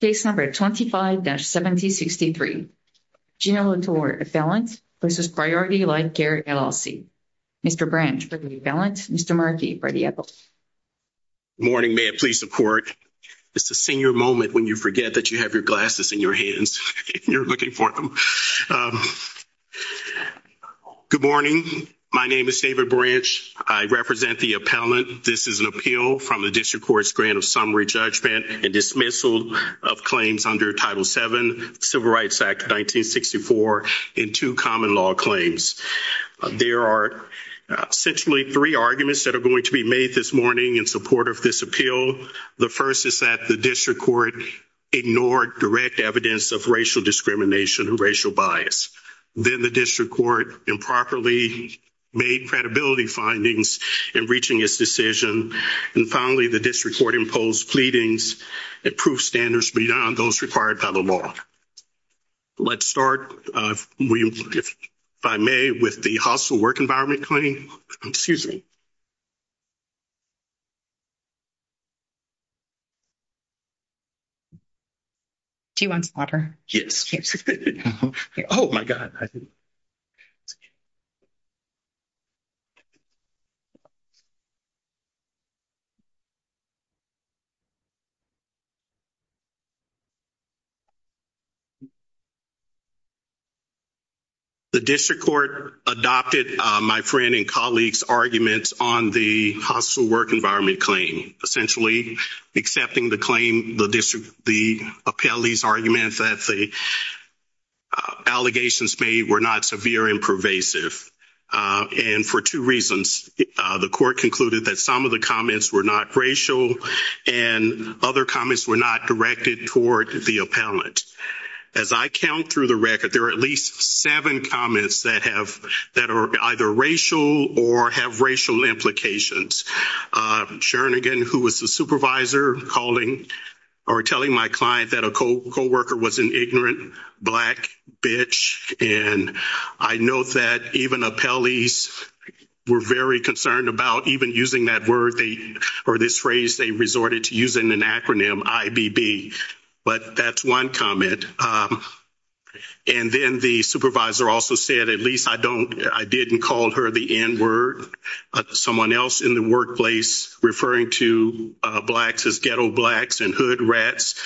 Case No. 25-1763, Gene Latture, Appellant, v. Priority Life Care, LLC Mr. Branch, Deputy Appellant, Mr. Markey, Brady Ethel Good morning, may I please support? It's the senior moment when you forget that you have your glasses in your hands and you're looking for them. Good morning, my name is David Branch, I represent the appellant. This is an appeal from the District Court's grant of summary judgment and dismissal of claims under Title VII, Civil Rights Act 1964, and two common law claims. There are essentially three arguments that are going to be made this morning in support of this appeal. The first is that the District Court ignored direct evidence of racial discrimination and racial bias. Then the District Court improperly made credibility findings in reaching its decision. And finally, the District Court imposed pleadings, approved standards beyond those required by the law. Let's start, if I may, with the Hospital Work Environment Claim. Excuse me. Do you want some water? Yes. Oh, my God. The District Court adopted my friend and colleague's arguments on the Hospital Work Environment Claim, essentially accepting the claim, the appellee's argument, that the allegations made were not severe and pervasive, and for two reasons. The court concluded that some of the comments were not racial and other comments were not directed toward the appellant. As I count through the record, there are at least seven comments that are either racial or have racial implications. Shernigan, who was the supervisor, calling or telling my client that a co-worker was an ignorant, black bitch, and I note that even appellees were very concerned about even using that word or this phrase they resorted to using an acronym, IBB. But that's one comment. And then the supervisor also said, at least I didn't call her the N-word. Someone else in the workplace referring to blacks as ghetto blacks and hood rats,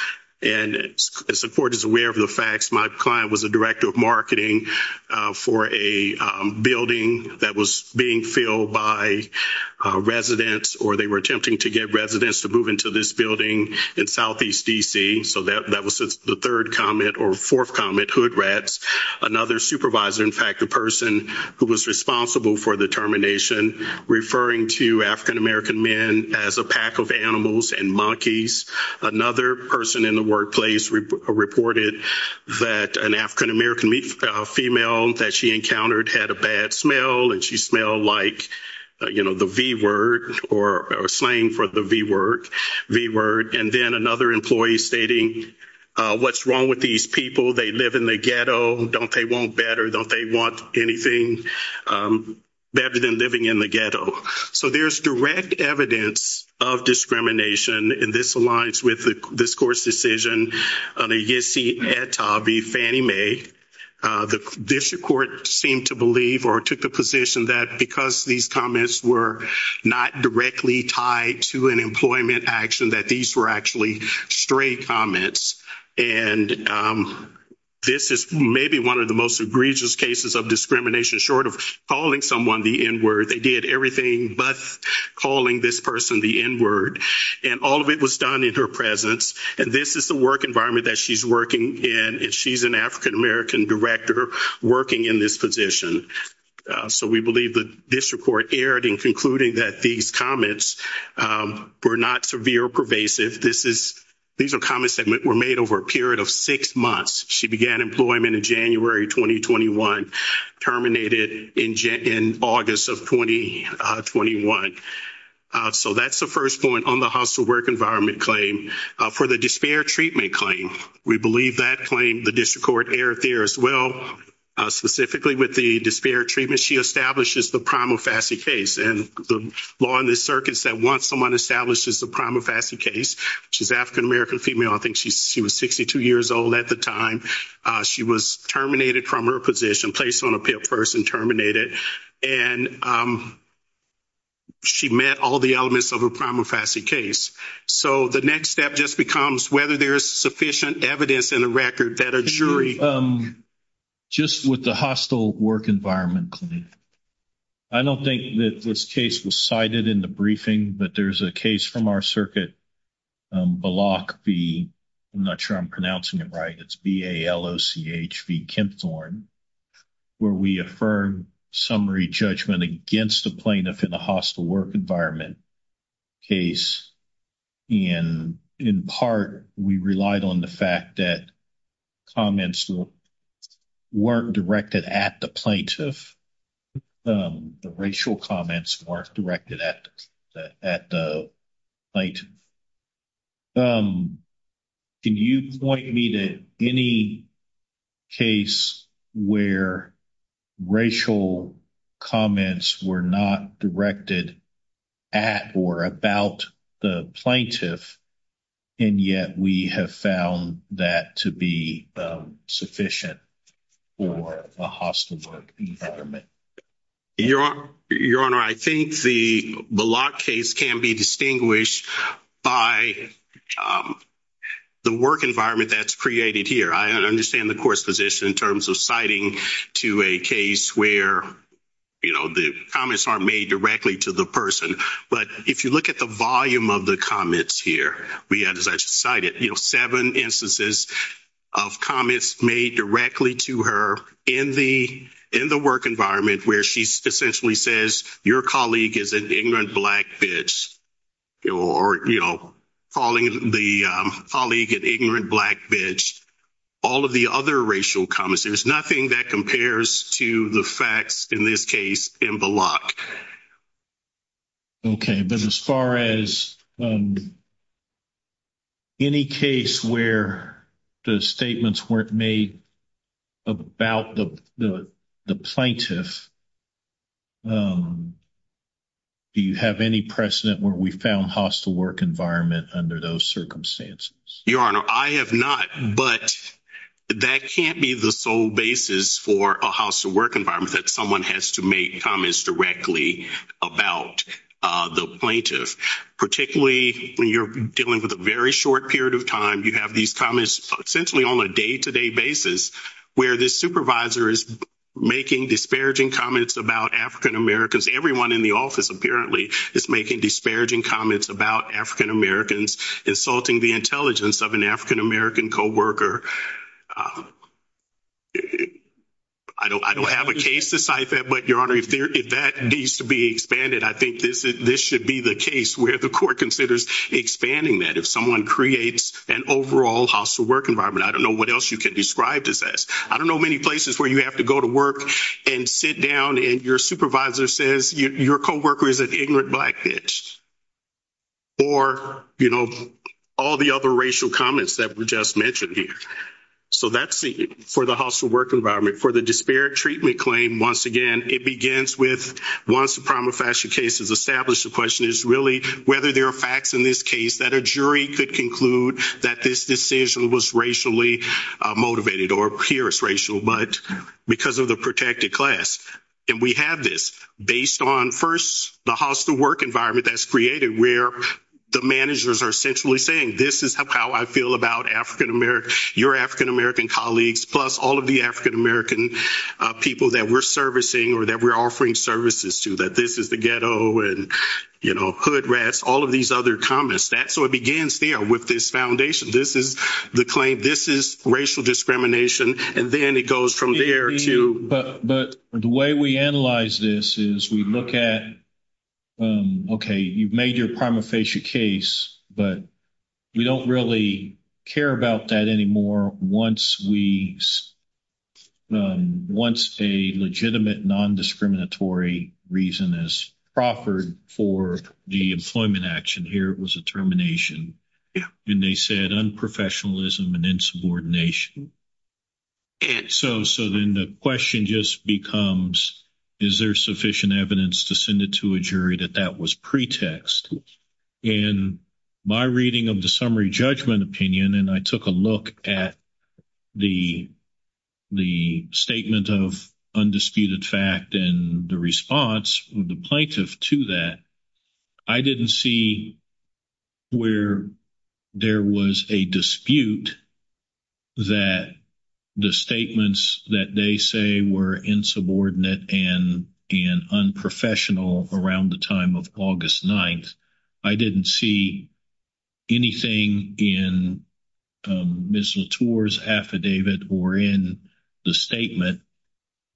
and the court is aware of the facts. My client was a director of marketing for a building that was being filled by residents or they were attempting to get residents to move into this building in Southeast D.C., so that was the third comment or fourth comment, hood rats. Another supervisor, in fact, the person who was responsible for the termination, referring to African-American men as a pack of animals and monkeys. Another person in the workplace reported that an African-American female that she encountered had a bad smell and she smelled like the V-word or slang for the V-word. And then another employee stating, what's wrong with these people? They live in the ghetto. Don't they want better? Don't they want anything better than living in the ghetto? So there's direct evidence of discrimination, and this aligns with this court's decision. On a Yisi et al v. Fannie Mae, this court seemed to believe or took the position that because these comments were not directly tied to an employment action, that these were actually straight comments. And this is maybe one of the most egregious cases of discrimination, short of calling someone the N-word. They did everything but calling this person the N-word, and all of it was done in her presence. And this is the work environment that she's working in, and she's an African-American director working in this position. So we believe the district court erred in concluding that these comments were not severe or pervasive. These are comments that were made over a period of six months. She began employment in January 2021, terminated in August of 2021. So that's the first point on the hostile work environment claim. For the despair treatment claim, we believe that claim the district court erred there as well, specifically with the despair treatment. She establishes the prima facie case, and the law in this circuit said once someone establishes the prima facie case, which is African-American female, I think she was 62 years old at the time, she was terminated from her position, placed on a PIP first and terminated, and she met all the elements of a prima facie case. So the next step just becomes whether there is sufficient evidence in the record that a jury Just with the hostile work environment claim, I don't think that this case was cited in the briefing, but there's a case from our circuit, Baloch v. I'm not sure I'm pronouncing it right. It's B-A-L-O-C-H v. Kempthorne, where we affirm summary judgment against a plaintiff in a hostile work environment case. And in part, we relied on the fact that comments weren't directed at the plaintiff. The racial comments weren't directed at the plaintiff. Can you point me to any case where racial comments were not directed at or about the plaintiff, and yet we have found that to be sufficient for a hostile work environment? Your Honor, I think the Baloch case can be distinguished by the work environment that's created here. I understand the court's position in terms of citing to a case where, you know, the comments aren't made directly to the person. But if you look at the volume of the comments here, we had, as I just cited, you know, seven instances of comments made directly to her in the work environment, where she essentially says, your colleague is an ignorant black bitch, or, you know, calling the colleague an ignorant black bitch, all of the other racial comments. There's nothing that compares to the facts in this case in Baloch. Okay. But as far as any case where the statements weren't made about the plaintiff, do you have any precedent where we found hostile work environment under those circumstances? Your Honor, I have not. But that can't be the sole basis for a hostile work environment, that someone has to make comments directly about the plaintiff. Particularly when you're dealing with a very short period of time, you have these comments essentially on a day-to-day basis, where the supervisor is making disparaging comments about African Americans. Everyone in the office, apparently, is making disparaging comments about African Americans, insulting the intelligence of an African American coworker. I don't have a case to cite that, but, Your Honor, if that needs to be expanded, I think this should be the case where the court considers expanding that, if someone creates an overall hostile work environment. I don't know what else you can describe this as. I don't know many places where you have to go to work and sit down, and your supervisor says, your coworker is an ignorant black bitch. Or, you know, all the other racial comments that were just mentioned here. So that's for the hostile work environment. For the disparate treatment claim, once again, it begins with, once the prima facie case is established, the question is really whether there are facts in this case that a jury could conclude that this decision was racially motivated, or here it's racial, but because of the protected class. And we have this, based on, first, the hostile work environment that's created, where the managers are essentially saying, this is how I feel about African American, your African American colleagues, plus all of the African American people that we're servicing or that we're offering services to, that this is the ghetto and, you know, hood rats, all of these other comments. So it begins there with this foundation. This is the claim, this is racial discrimination, and then it goes from there to. But the way we analyze this is we look at, okay, you've made your prima facie case, but we don't really care about that anymore once we, once a legitimate non-discriminatory reason is proffered for the employment action. Here it was a termination. And they said unprofessionalism and insubordination. So then the question just becomes, is there sufficient evidence to send it to a jury that that was pretext? In my reading of the summary judgment opinion, and I took a look at the statement of undisputed fact and the response of the plaintiff to that, I didn't see where there was a dispute that the statements that they say were insubordinate and unprofessional around the time of August 9th. I didn't see anything in Ms. Latour's affidavit or in the statement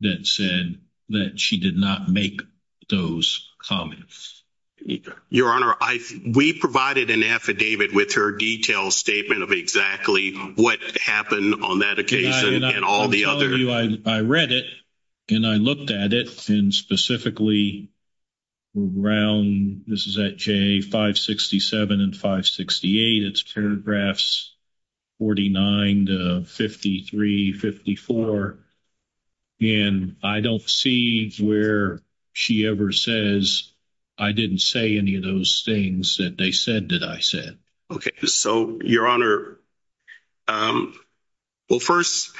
that said that she did not make those comments. Your Honor, we provided an affidavit with her detailed statement of exactly what happened on that occasion and all the other... I'll tell you, I read it and I looked at it and specifically around, this is at J567 and 568, it's paragraphs 49 to 53, 54. And I don't see where she ever says, I didn't say any of those things that they said that I said. Okay. So, Your Honor, well, first,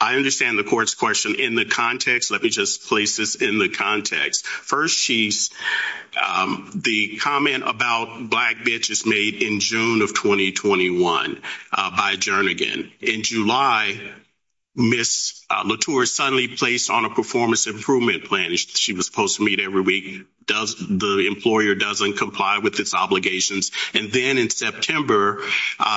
I understand the court's question in the context. Let me just place this in the context. First, the comment about black bitches made in June of 2021 by Jernigan. In July, Ms. Latour suddenly placed on a performance improvement plan. She was supposed to meet every week. The employer doesn't comply with its obligations. And then in September,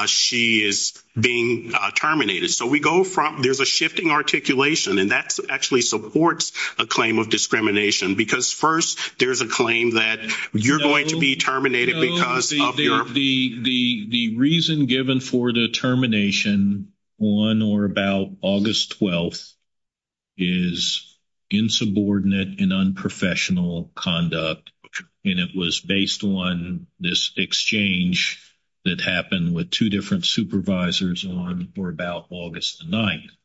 she is being terminated. So we go from... There's a shifting articulation and that actually supports a claim of discrimination. Because first, there's a claim that you're going to be terminated because of your... The reason given for the termination on or about August 12th is insubordinate and unprofessional conduct. And it was based on this exchange that happened with two different supervisors on or about August 9th.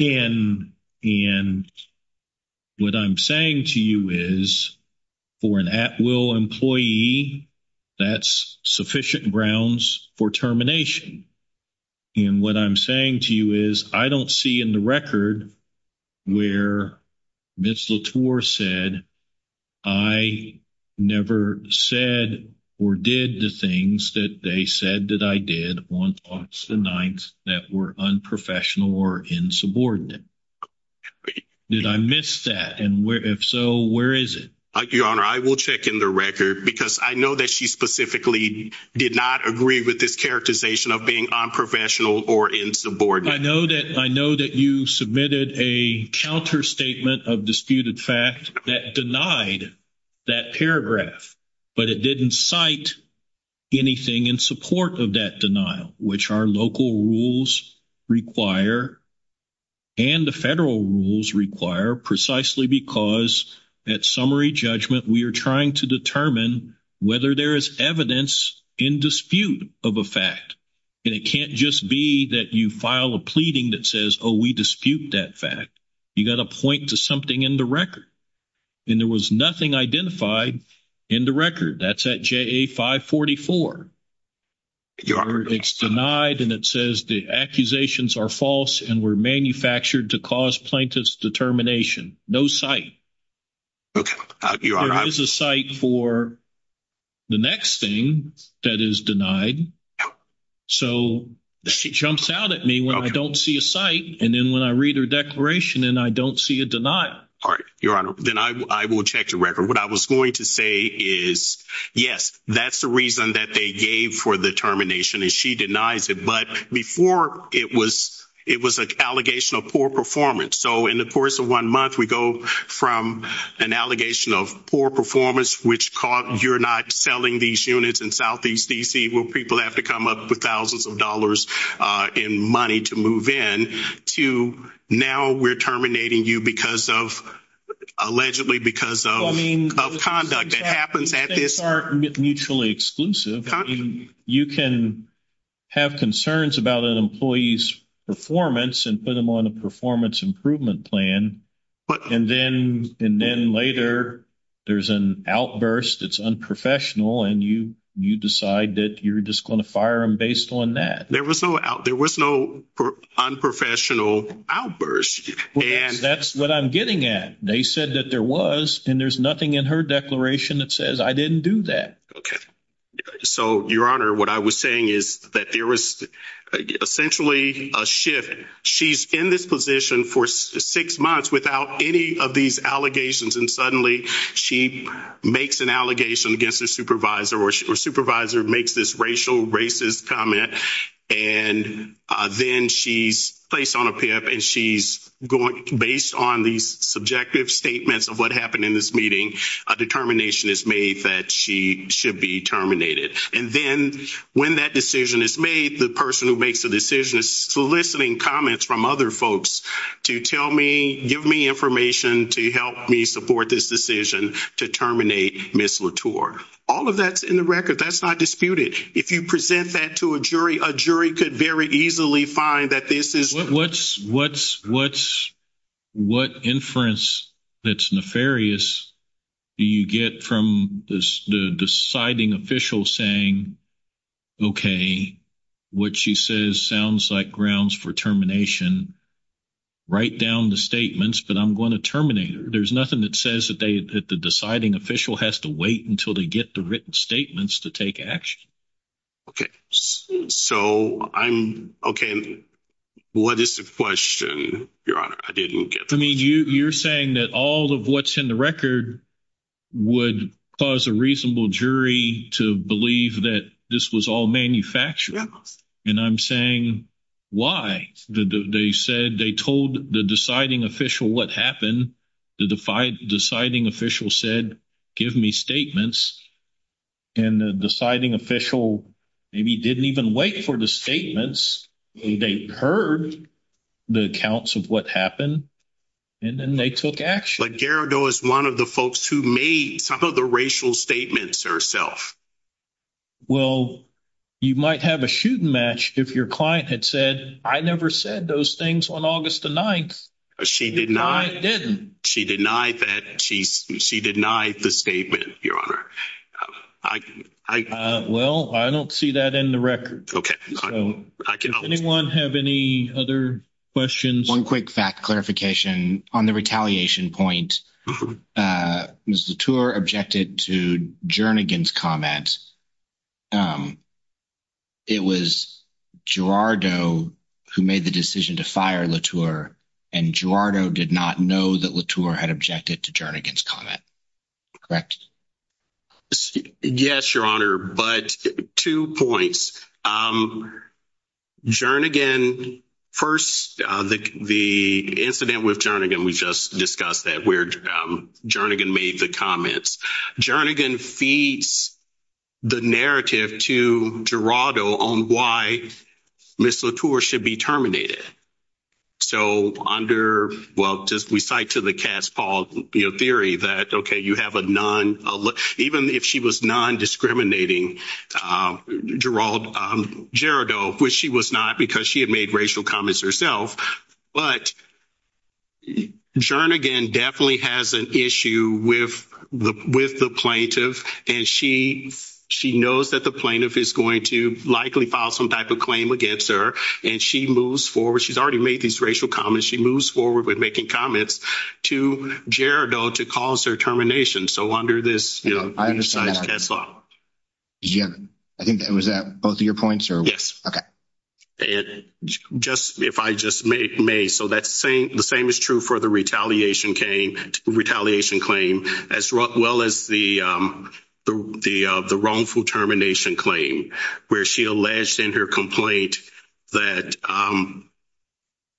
And what I'm saying to you is for an at-will employee, that's sufficient grounds for termination. And what I'm saying to you is I don't see in the record where Ms. Latour said, I never said or did the things that they said that I did on August 9th that were unprofessional or insubordinate. Did I miss that? And if so, where is it? Your Honor, I will check in the record because I know that she specifically did not agree with this characterization of being unprofessional or insubordinate. I know that you submitted a counter statement of disputed fact that denied that paragraph. But it didn't cite anything in support of that denial, which our local rules require and the federal rules require precisely because at summary judgment, we are trying to determine whether there is evidence in dispute of a fact. And it can't just be that you file a pleading that says, oh, we dispute that fact. You got to point to something in the record. And there was nothing identified in the record. That's at JA 544. It's denied and it says the accusations are false and were manufactured to cause plaintiff's determination. No site. There is a site for the next thing that is denied. So she jumps out at me when I don't see a site. And then when I read her declaration and I don't see a denial. Your Honor, then I will check the record. What I was going to say is, yes, that's the reason that they gave for the determination. And she denies it. But before it was an allegation of poor performance. So in the course of one month, we go from an allegation of poor performance, which you're not selling these units in southeast D.C. where people have to come up with thousands of dollars in money to move in, to now we're terminating you because of allegedly because of. Well, I mean. Of conduct that happens at this. They are mutually exclusive. You can have concerns about an employee's performance and put them on a performance improvement plan. And then later there's an outburst that's unprofessional, and you decide that you're just going to fire them based on that. There was no unprofessional outburst. And that's what I'm getting at. They said that there was. And there's nothing in her declaration that says I didn't do that. So, Your Honor, what I was saying is that there was essentially a shift. She's in this position for six months without any of these allegations. And suddenly she makes an allegation against her supervisor or her supervisor makes this racial, racist comment. And then she's placed on a PIP, and she's going based on these subjective statements of what happened in this meeting, a determination is made that she should be terminated. And then when that decision is made, the person who makes the decision is soliciting comments from other folks to tell me, give me information to help me support this decision to terminate Ms. Latour. All of that's in the record. That's not disputed. If you present that to a jury, a jury could very easily find that this is true. What inference that's nefarious do you get from the deciding official saying, okay, what she says sounds like grounds for termination. Write down the statements, but I'm going to terminate her. There's nothing that says that the deciding official has to wait until they get the written statements to take action. So I'm okay. What is the question, Your Honor? I didn't get the question. I mean, you're saying that all of what's in the record would cause a reasonable jury to believe that this was all manufactured. And I'm saying, why? They said they told the deciding official what happened. The deciding official said, give me statements. And the deciding official maybe didn't even wait for the statements. They heard the accounts of what happened, and then they took action. But Gerardo is one of the folks who made some of the racial statements herself. Well, you might have a shooting match if your client had said, I never said those things on August the 9th. She did not. I didn't. She denied that. She denied the statement, Your Honor. Well, I don't see that in the record. Does anyone have any other questions? One quick fact clarification. On the retaliation point, Ms. Latour objected to Jernigan's comment. It was Gerardo who made the decision to fire Latour, and Gerardo did not know that Latour had objected to Jernigan's comment. Yes, Your Honor. But two points. Jernigan, first, the incident with Jernigan, we just discussed that where Jernigan made the comments. Jernigan feeds the narrative to Gerardo on why Ms. Latour should be terminated. So under, well, we cite to the Cass Paul theory that, okay, you have a non- even if she was non-discriminating, Gerardo, which she was not because she had made racial comments herself, but Jernigan definitely has an issue with the plaintiff, and she knows that the plaintiff is going to likely file some type of claim against her, and she moves forward. She's already made these racial comments. She moves forward with making comments to Gerardo to cause her termination. So under this, you know, we cite Cass Law. I think was that both of your points? Yes. And just if I just may. So the same is true for the retaliation claim as well as the wrongful termination claim, where she alleged in her complaint that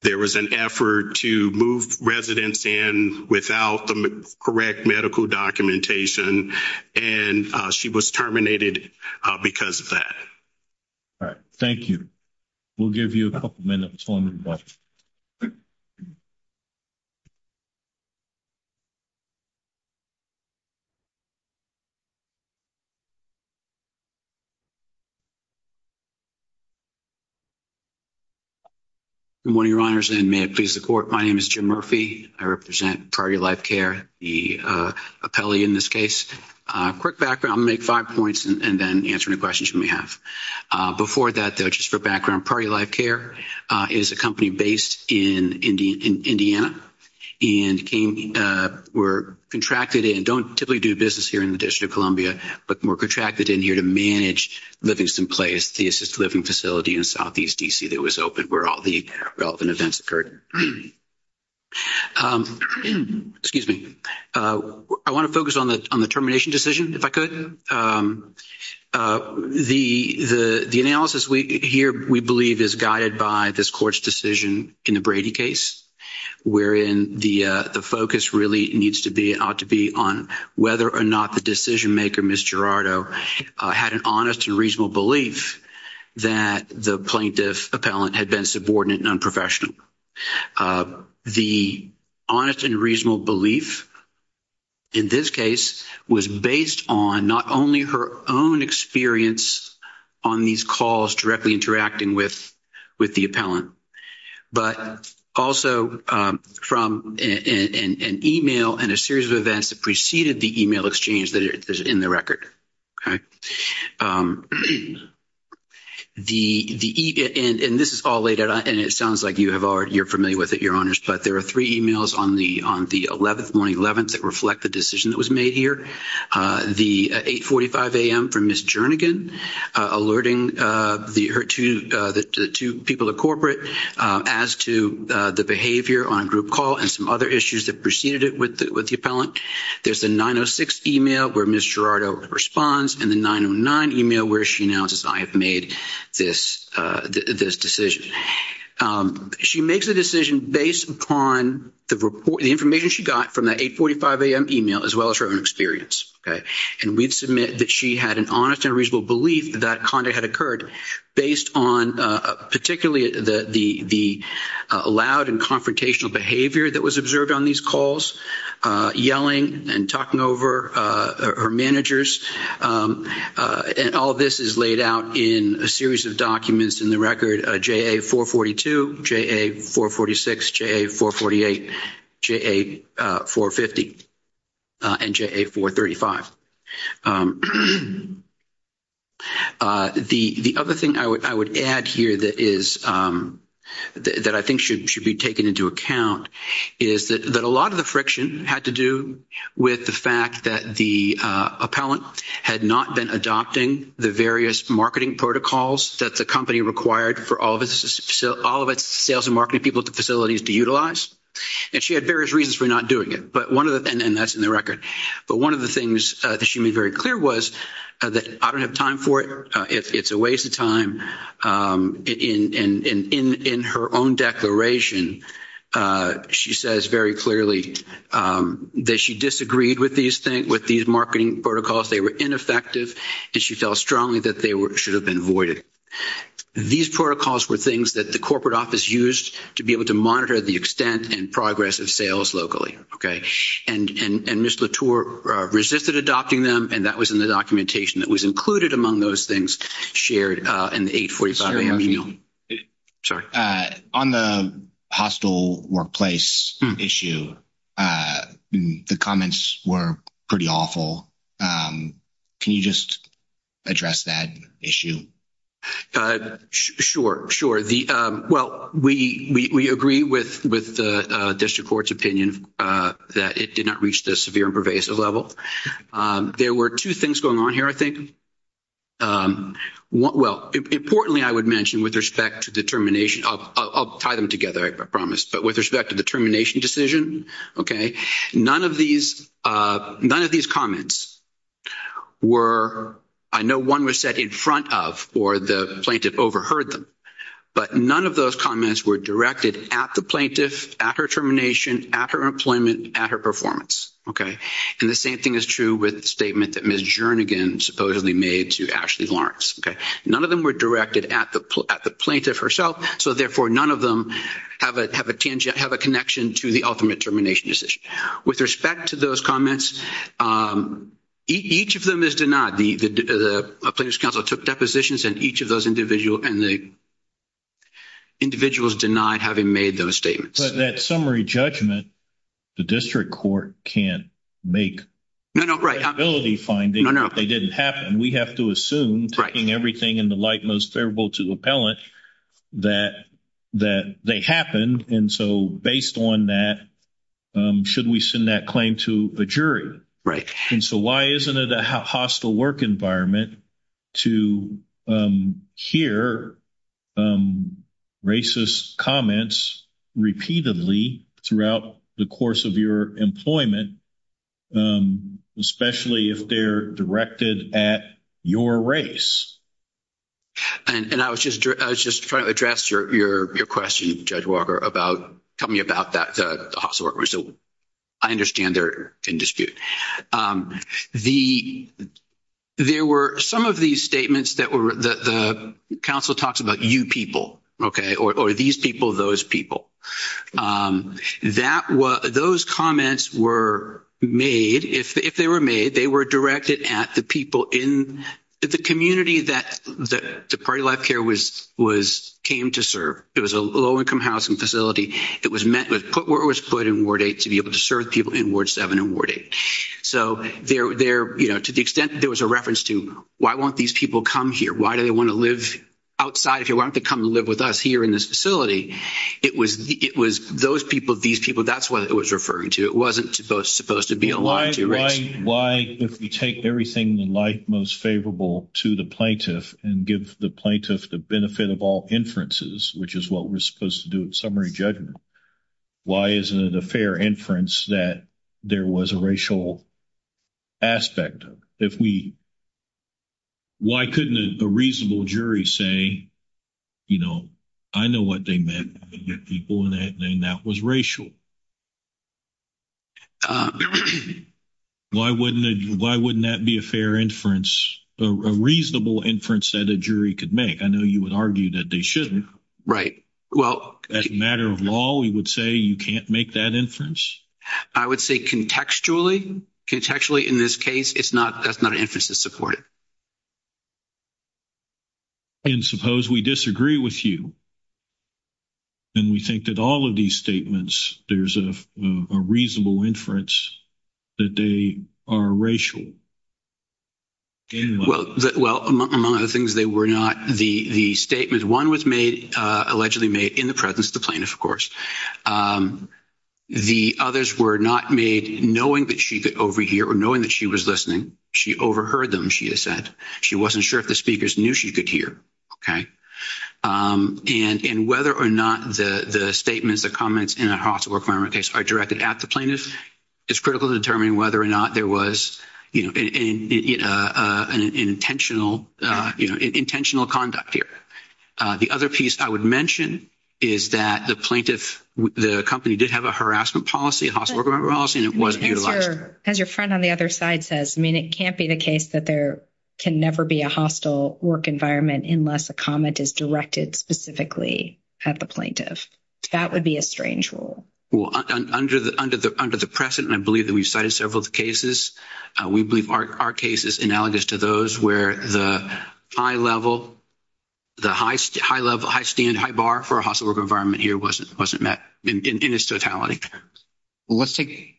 there was an effort to move residents in without the correct medical documentation, and she was terminated because of that. All right. Thank you. We'll give you a couple minutes. Good morning, Your Honors, and may it please the Court. My name is Jim Murphy. I represent Prior to Your Life Care, the appellee in this case. A quick background. I'll make five points and then answer any questions you may have. Before that, though, just for background, Prior to Your Life Care, if you have any questions, please feel free to reach out to me. Prior to Your Life Care is a company based in Indiana and were contracted in, don't typically do business here in the District of Columbia, but were contracted in here to manage Livingston Place, the assisted living facility in Southeast D.C. that was opened where all the relevant events occurred. Excuse me. I want to focus on the termination decision, if I could. The analysis here, we believe, is guided by this Court's decision in the Brady case, wherein the focus really needs to be on whether or not the decision-maker, Ms. Gerardo, had an honest and reasonable belief that the plaintiff appellant had been subordinate and unprofessional. The honest and reasonable belief in this case was based on not only her own experience on these calls directly interacting with the appellant, but also from an e-mail and a series of events that preceded the e-mail exchange that is in the record. And this is all laid out, and it sounds like you're familiar with it, Your Honors, but there are three e-mails on the 11th, on the 11th that reflect the decision that was made here. The 8.45 a.m. from Ms. Jernigan alerting the two people at corporate as to the behavior on a group call and some other issues that preceded it with the response, and the 9.09 e-mail where she announces, I have made this decision. She makes a decision based upon the information she got from that 8.45 a.m. e-mail as well as her own experience. And we'd submit that she had an honest and reasonable belief that conduct had occurred based on particularly the loud and confrontational behavior that was And all this is laid out in a series of documents in the record, JA-442, JA-446, JA-448, JA-450, and JA-435. The other thing I would add here that I think should be taken into account is that a lot of the friction had to do with the fact that the appellant had not been adopting the various marketing protocols that the company required for all of its sales and marketing people facilities to utilize. And she had various reasons for not doing it, and that's in the record. But one of the things that she made very clear was that I don't have time for it. It's a waste of time. And in her own declaration, she says very clearly that she disagreed with these marketing protocols, they were ineffective, and she felt strongly that they should have been voided. These protocols were things that the corporate office used to be able to monitor the extent and progress of sales locally. And Ms. Latour resisted adopting them, and that was in the documentation that was On the hostile workplace issue, the comments were pretty awful. Can you just address that issue? Sure, sure. Well, we agree with the district court's opinion that it did not reach the severe and pervasive level. There were two things going on here, I think. Well, importantly, I would mention with respect to the termination, I'll tie them together, I promise, but with respect to the termination decision, okay, none of these comments were, I know one was said in front of or the plaintiff overheard them, but none of those comments were directed at the plaintiff, at her termination, at her employment, at her performance, okay? And the same thing is true with the statement that Ms. Jernigan supposedly made to Ashley Lawrence, okay? None of them were directed at the plaintiff herself, so, therefore, none of them have a connection to the ultimate termination decision. With respect to those comments, each of them is denied. The plaintiff's counsel took depositions in each of those individuals, and the individuals denied having made those statements. But that summary judgment, the district court can't make credibility findings if they didn't happen. We have to assume, taking everything in the light most favorable to the appellant, that they happened. And so based on that, should we send that claim to a jury? And so why isn't it a hostile work environment to hear racist comments repeatedly throughout the course of your employment, especially if they're directed at your race? And I was just trying to address your question, Judge Walker, about coming about that hostile work. I understand they're in dispute. There were some of these statements that the counsel talks about, you people, okay, or these people, those people. Those comments were made, if they were made, they were directed at the people in the community that the Party Life Care came to serve. It was a low-income housing facility. It was put where it was put in Ward 8 to be able to serve people in Ward 7 and Ward 8. So to the extent there was a reference to, why won't these people come here, why do they want to live outside if they want to come and live with us here in this facility, it was those people, these people, that's what it was referring to. It wasn't supposed to be aligned to race. Why, if we take everything in life most favorable to the plaintiff and give the plaintiff the benefit of all inferences, which is what we're supposed to do in summary judgment, why isn't it a fair inference that there was a racial aspect of it? If we, why couldn't a reasonable jury say, you know, I know what they meant by the people and that was racial? Why wouldn't that be a fair inference, a reasonable inference that a jury could make? I know you would argue that they shouldn't. As a matter of law, you would say you can't make that inference? I would say contextually, contextually in this case, that's not an inference that's supported. And suppose we disagree with you and we think that all of these statements, there's a reasonable inference that they are racial? Well, among other things, they were not. The statement one was made, allegedly made in the presence of the plaintiff, of course. The others were not made knowing that she could overhear or knowing that she was listening. She overheard them, she has said. She wasn't sure if the speakers knew she could hear. And whether or not the statements, the comments in a hostile work environment case are directed at the plaintiff, it's critical to determine whether or not there was, you know, an intentional, you know, intentional conduct here. The other piece I would mention is that the plaintiff, the company did have a harassment policy, a hostile work environment policy, and it wasn't utilized. As your friend on the other side says, I mean, it can't be the case that there can never be a hostile work environment unless a comment is directed specifically at the plaintiff. That would be a strange rule. Well, under the present, and I believe that we've cited several of the cases, we believe our case is analogous to those where the high level, the high level, high standard, high bar for a hostile work environment here wasn't met in its totality. Well, let's take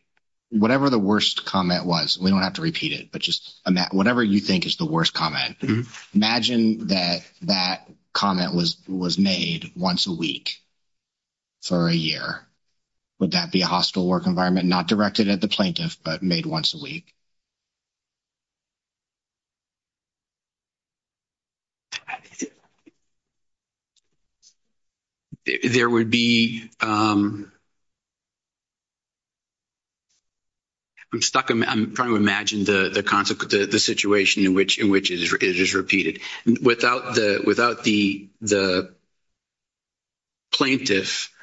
whatever the worst comment was. We don't have to repeat it, but just, whatever you think is the worst comment, imagine that that comment was made once a week for a year. Would that be a hostile work environment, not directed at the plaintiff, but made once a week? There would be, I'm stuck, I'm trying to imagine the situation in which it is repeated. Without the plaintiff,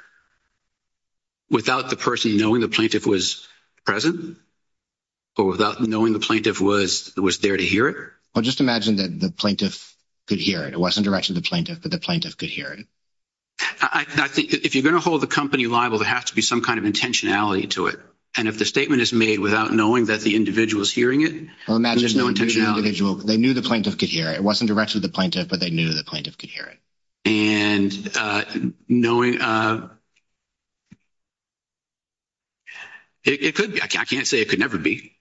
without the person knowing the plaintiff was present, or without knowing the plaintiff was there to hear it? Well, just imagine that the plaintiff could hear it. It wasn't directed to the plaintiff, but the plaintiff could hear it. I think if you're going to hold the company liable, there has to be some kind of intentionality to it. And if the statement is made without knowing that the individual is hearing it, there's no intentionality. They knew the plaintiff could hear it. It wasn't directed to the plaintiff, but they knew the plaintiff could hear it. And knowing, it could be, I can't say it could never be.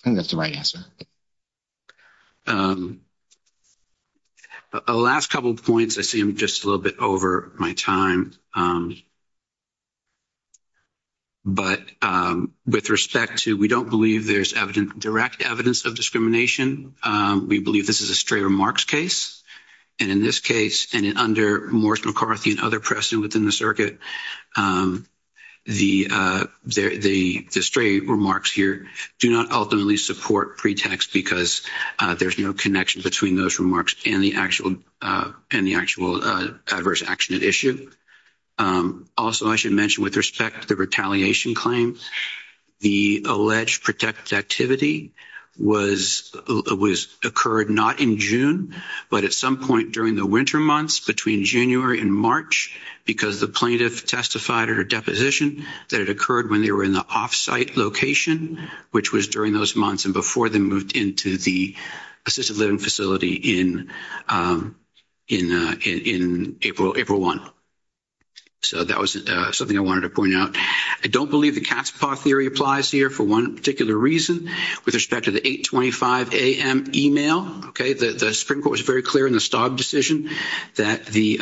I think that's the right answer. The last couple of points, I see I'm just a little bit over my time. But with respect to, we don't believe there's direct evidence of discrimination. We believe this is a stray remarks case. And in this case, and under Morris McCarthy and other precedent within the circuit, the stray remarks here do not ultimately support pretext because there's no connection between those remarks and the actual adverse action at issue. Also, I should mention with respect to the retaliation claims, the alleged protected activity occurred not in June, but at some point during the winter months between January and March, because the plaintiff testified at a deposition that it occurred when they were in the off-site location, which was during those months and before they moved into the assisted living facility in April 1. So that was something I wanted to point out. I don't believe the cat's paw theory applies here for one particular reason. With respect to the 8.25 a.m. e-mail, okay, the Supreme Court was very clear in the Staub decision that the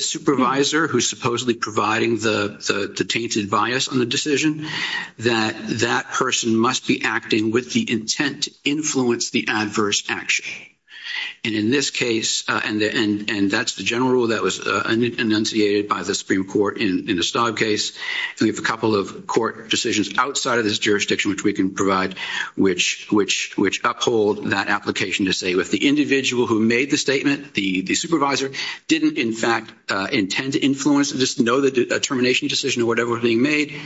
supervisor who's supposedly providing the tainted bias on the decision, that that person must be acting with the intent to influence the adverse action. And in this case, and that's the general rule that was enunciated by the Supreme Court in the Staub case, we have a couple of court decisions outside of this jurisdiction which we can provide, which uphold that application to say, if the individual who made the statement, the supervisor, didn't in fact intend to influence this, know that a termination decision or whatever was being made,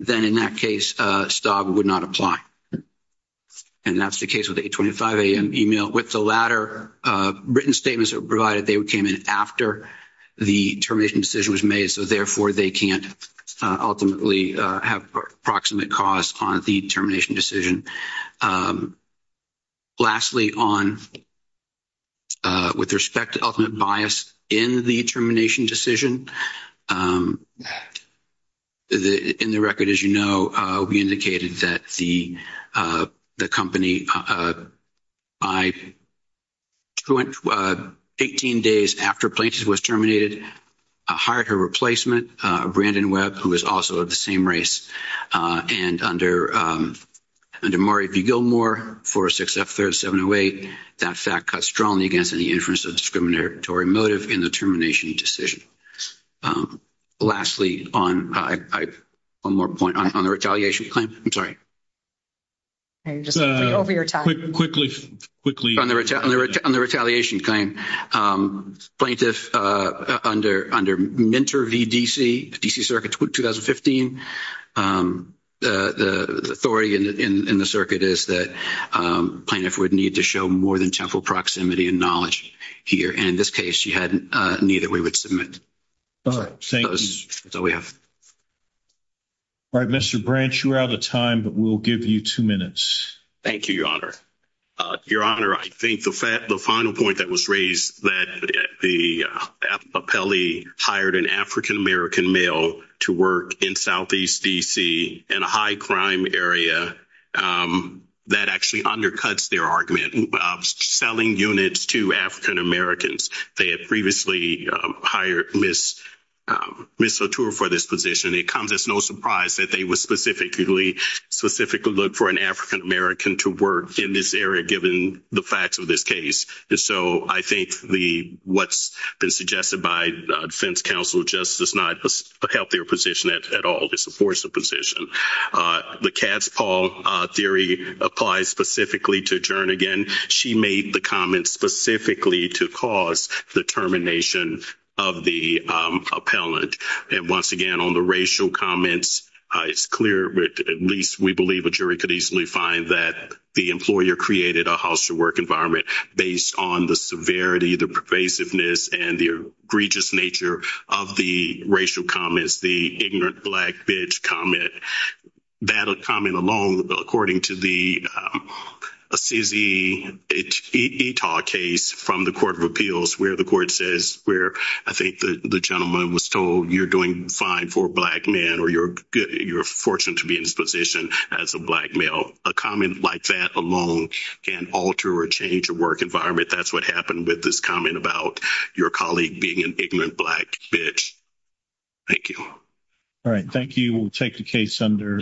then in that case Staub would not apply. And that's the case with the 8.25 a.m. e-mail. With the latter written statements that were provided, they came in after the termination decision was made, so therefore they can't ultimately have proximate cause on the termination decision. Lastly, on with respect to ultimate bias in the termination decision, in the record, as you know, we indicated that the company by 18, 18 days after Plaintiff was terminated, hired her replacement, Brandon Webb, who was also of the same race. And under Murray V. Gilmore, 406F3708, that fact cuts strongly against any inference of discriminatory motive in the termination decision. Lastly, on, one more point, on the retaliation claim. I'm sorry. Over your time. Quickly, quickly. On the retaliation claim, Plaintiff, under Minter v. D.C., D.C. Circuit 2015, the authority in the circuit is that Plaintiff would need to show more than temporal proximity and knowledge here. And in this case, she had neither. We would submit. All right. Thank you. That's all we have. All right, Mr. Branch, you're out of time, but we'll give you two minutes. Thank you, Your Honor. Your Honor, I think the final point that was raised, that the appellee hired an African American male to work in Southeast D.C. in a high crime area, that actually undercuts their argument. Selling units to African Americans. They had previously hired Ms. Latour for this position. It comes as no surprise that they were specifically, specifically looked for an African American to work in this area, given the facts of this case. And so I think what's been suggested by defense counsel, just is not a healthier position at all. It's a forced position. The Katz-Paul theory applies specifically to Jernigan. She made the comment specifically to cause the termination of the appellant. And once again, on the racial comments, it's clear, at least we believe a jury could easily find, that the employer created a house-to-work environment based on the severity, the pervasiveness, and the egregious nature of the racial comments, the ignorant black bitch comment. That comment alone, according to the Assisi-Etaw case from the Court of Appeals, where the court says, where I think the gentleman was told, you're doing fine for a black man, or you're fortunate to be in this position as a black male. A comment like that alone can alter or change a work environment. That's what happened with this comment about your colleague being an ignorant black bitch. Thank you. All right. Thank you. We'll take the case under.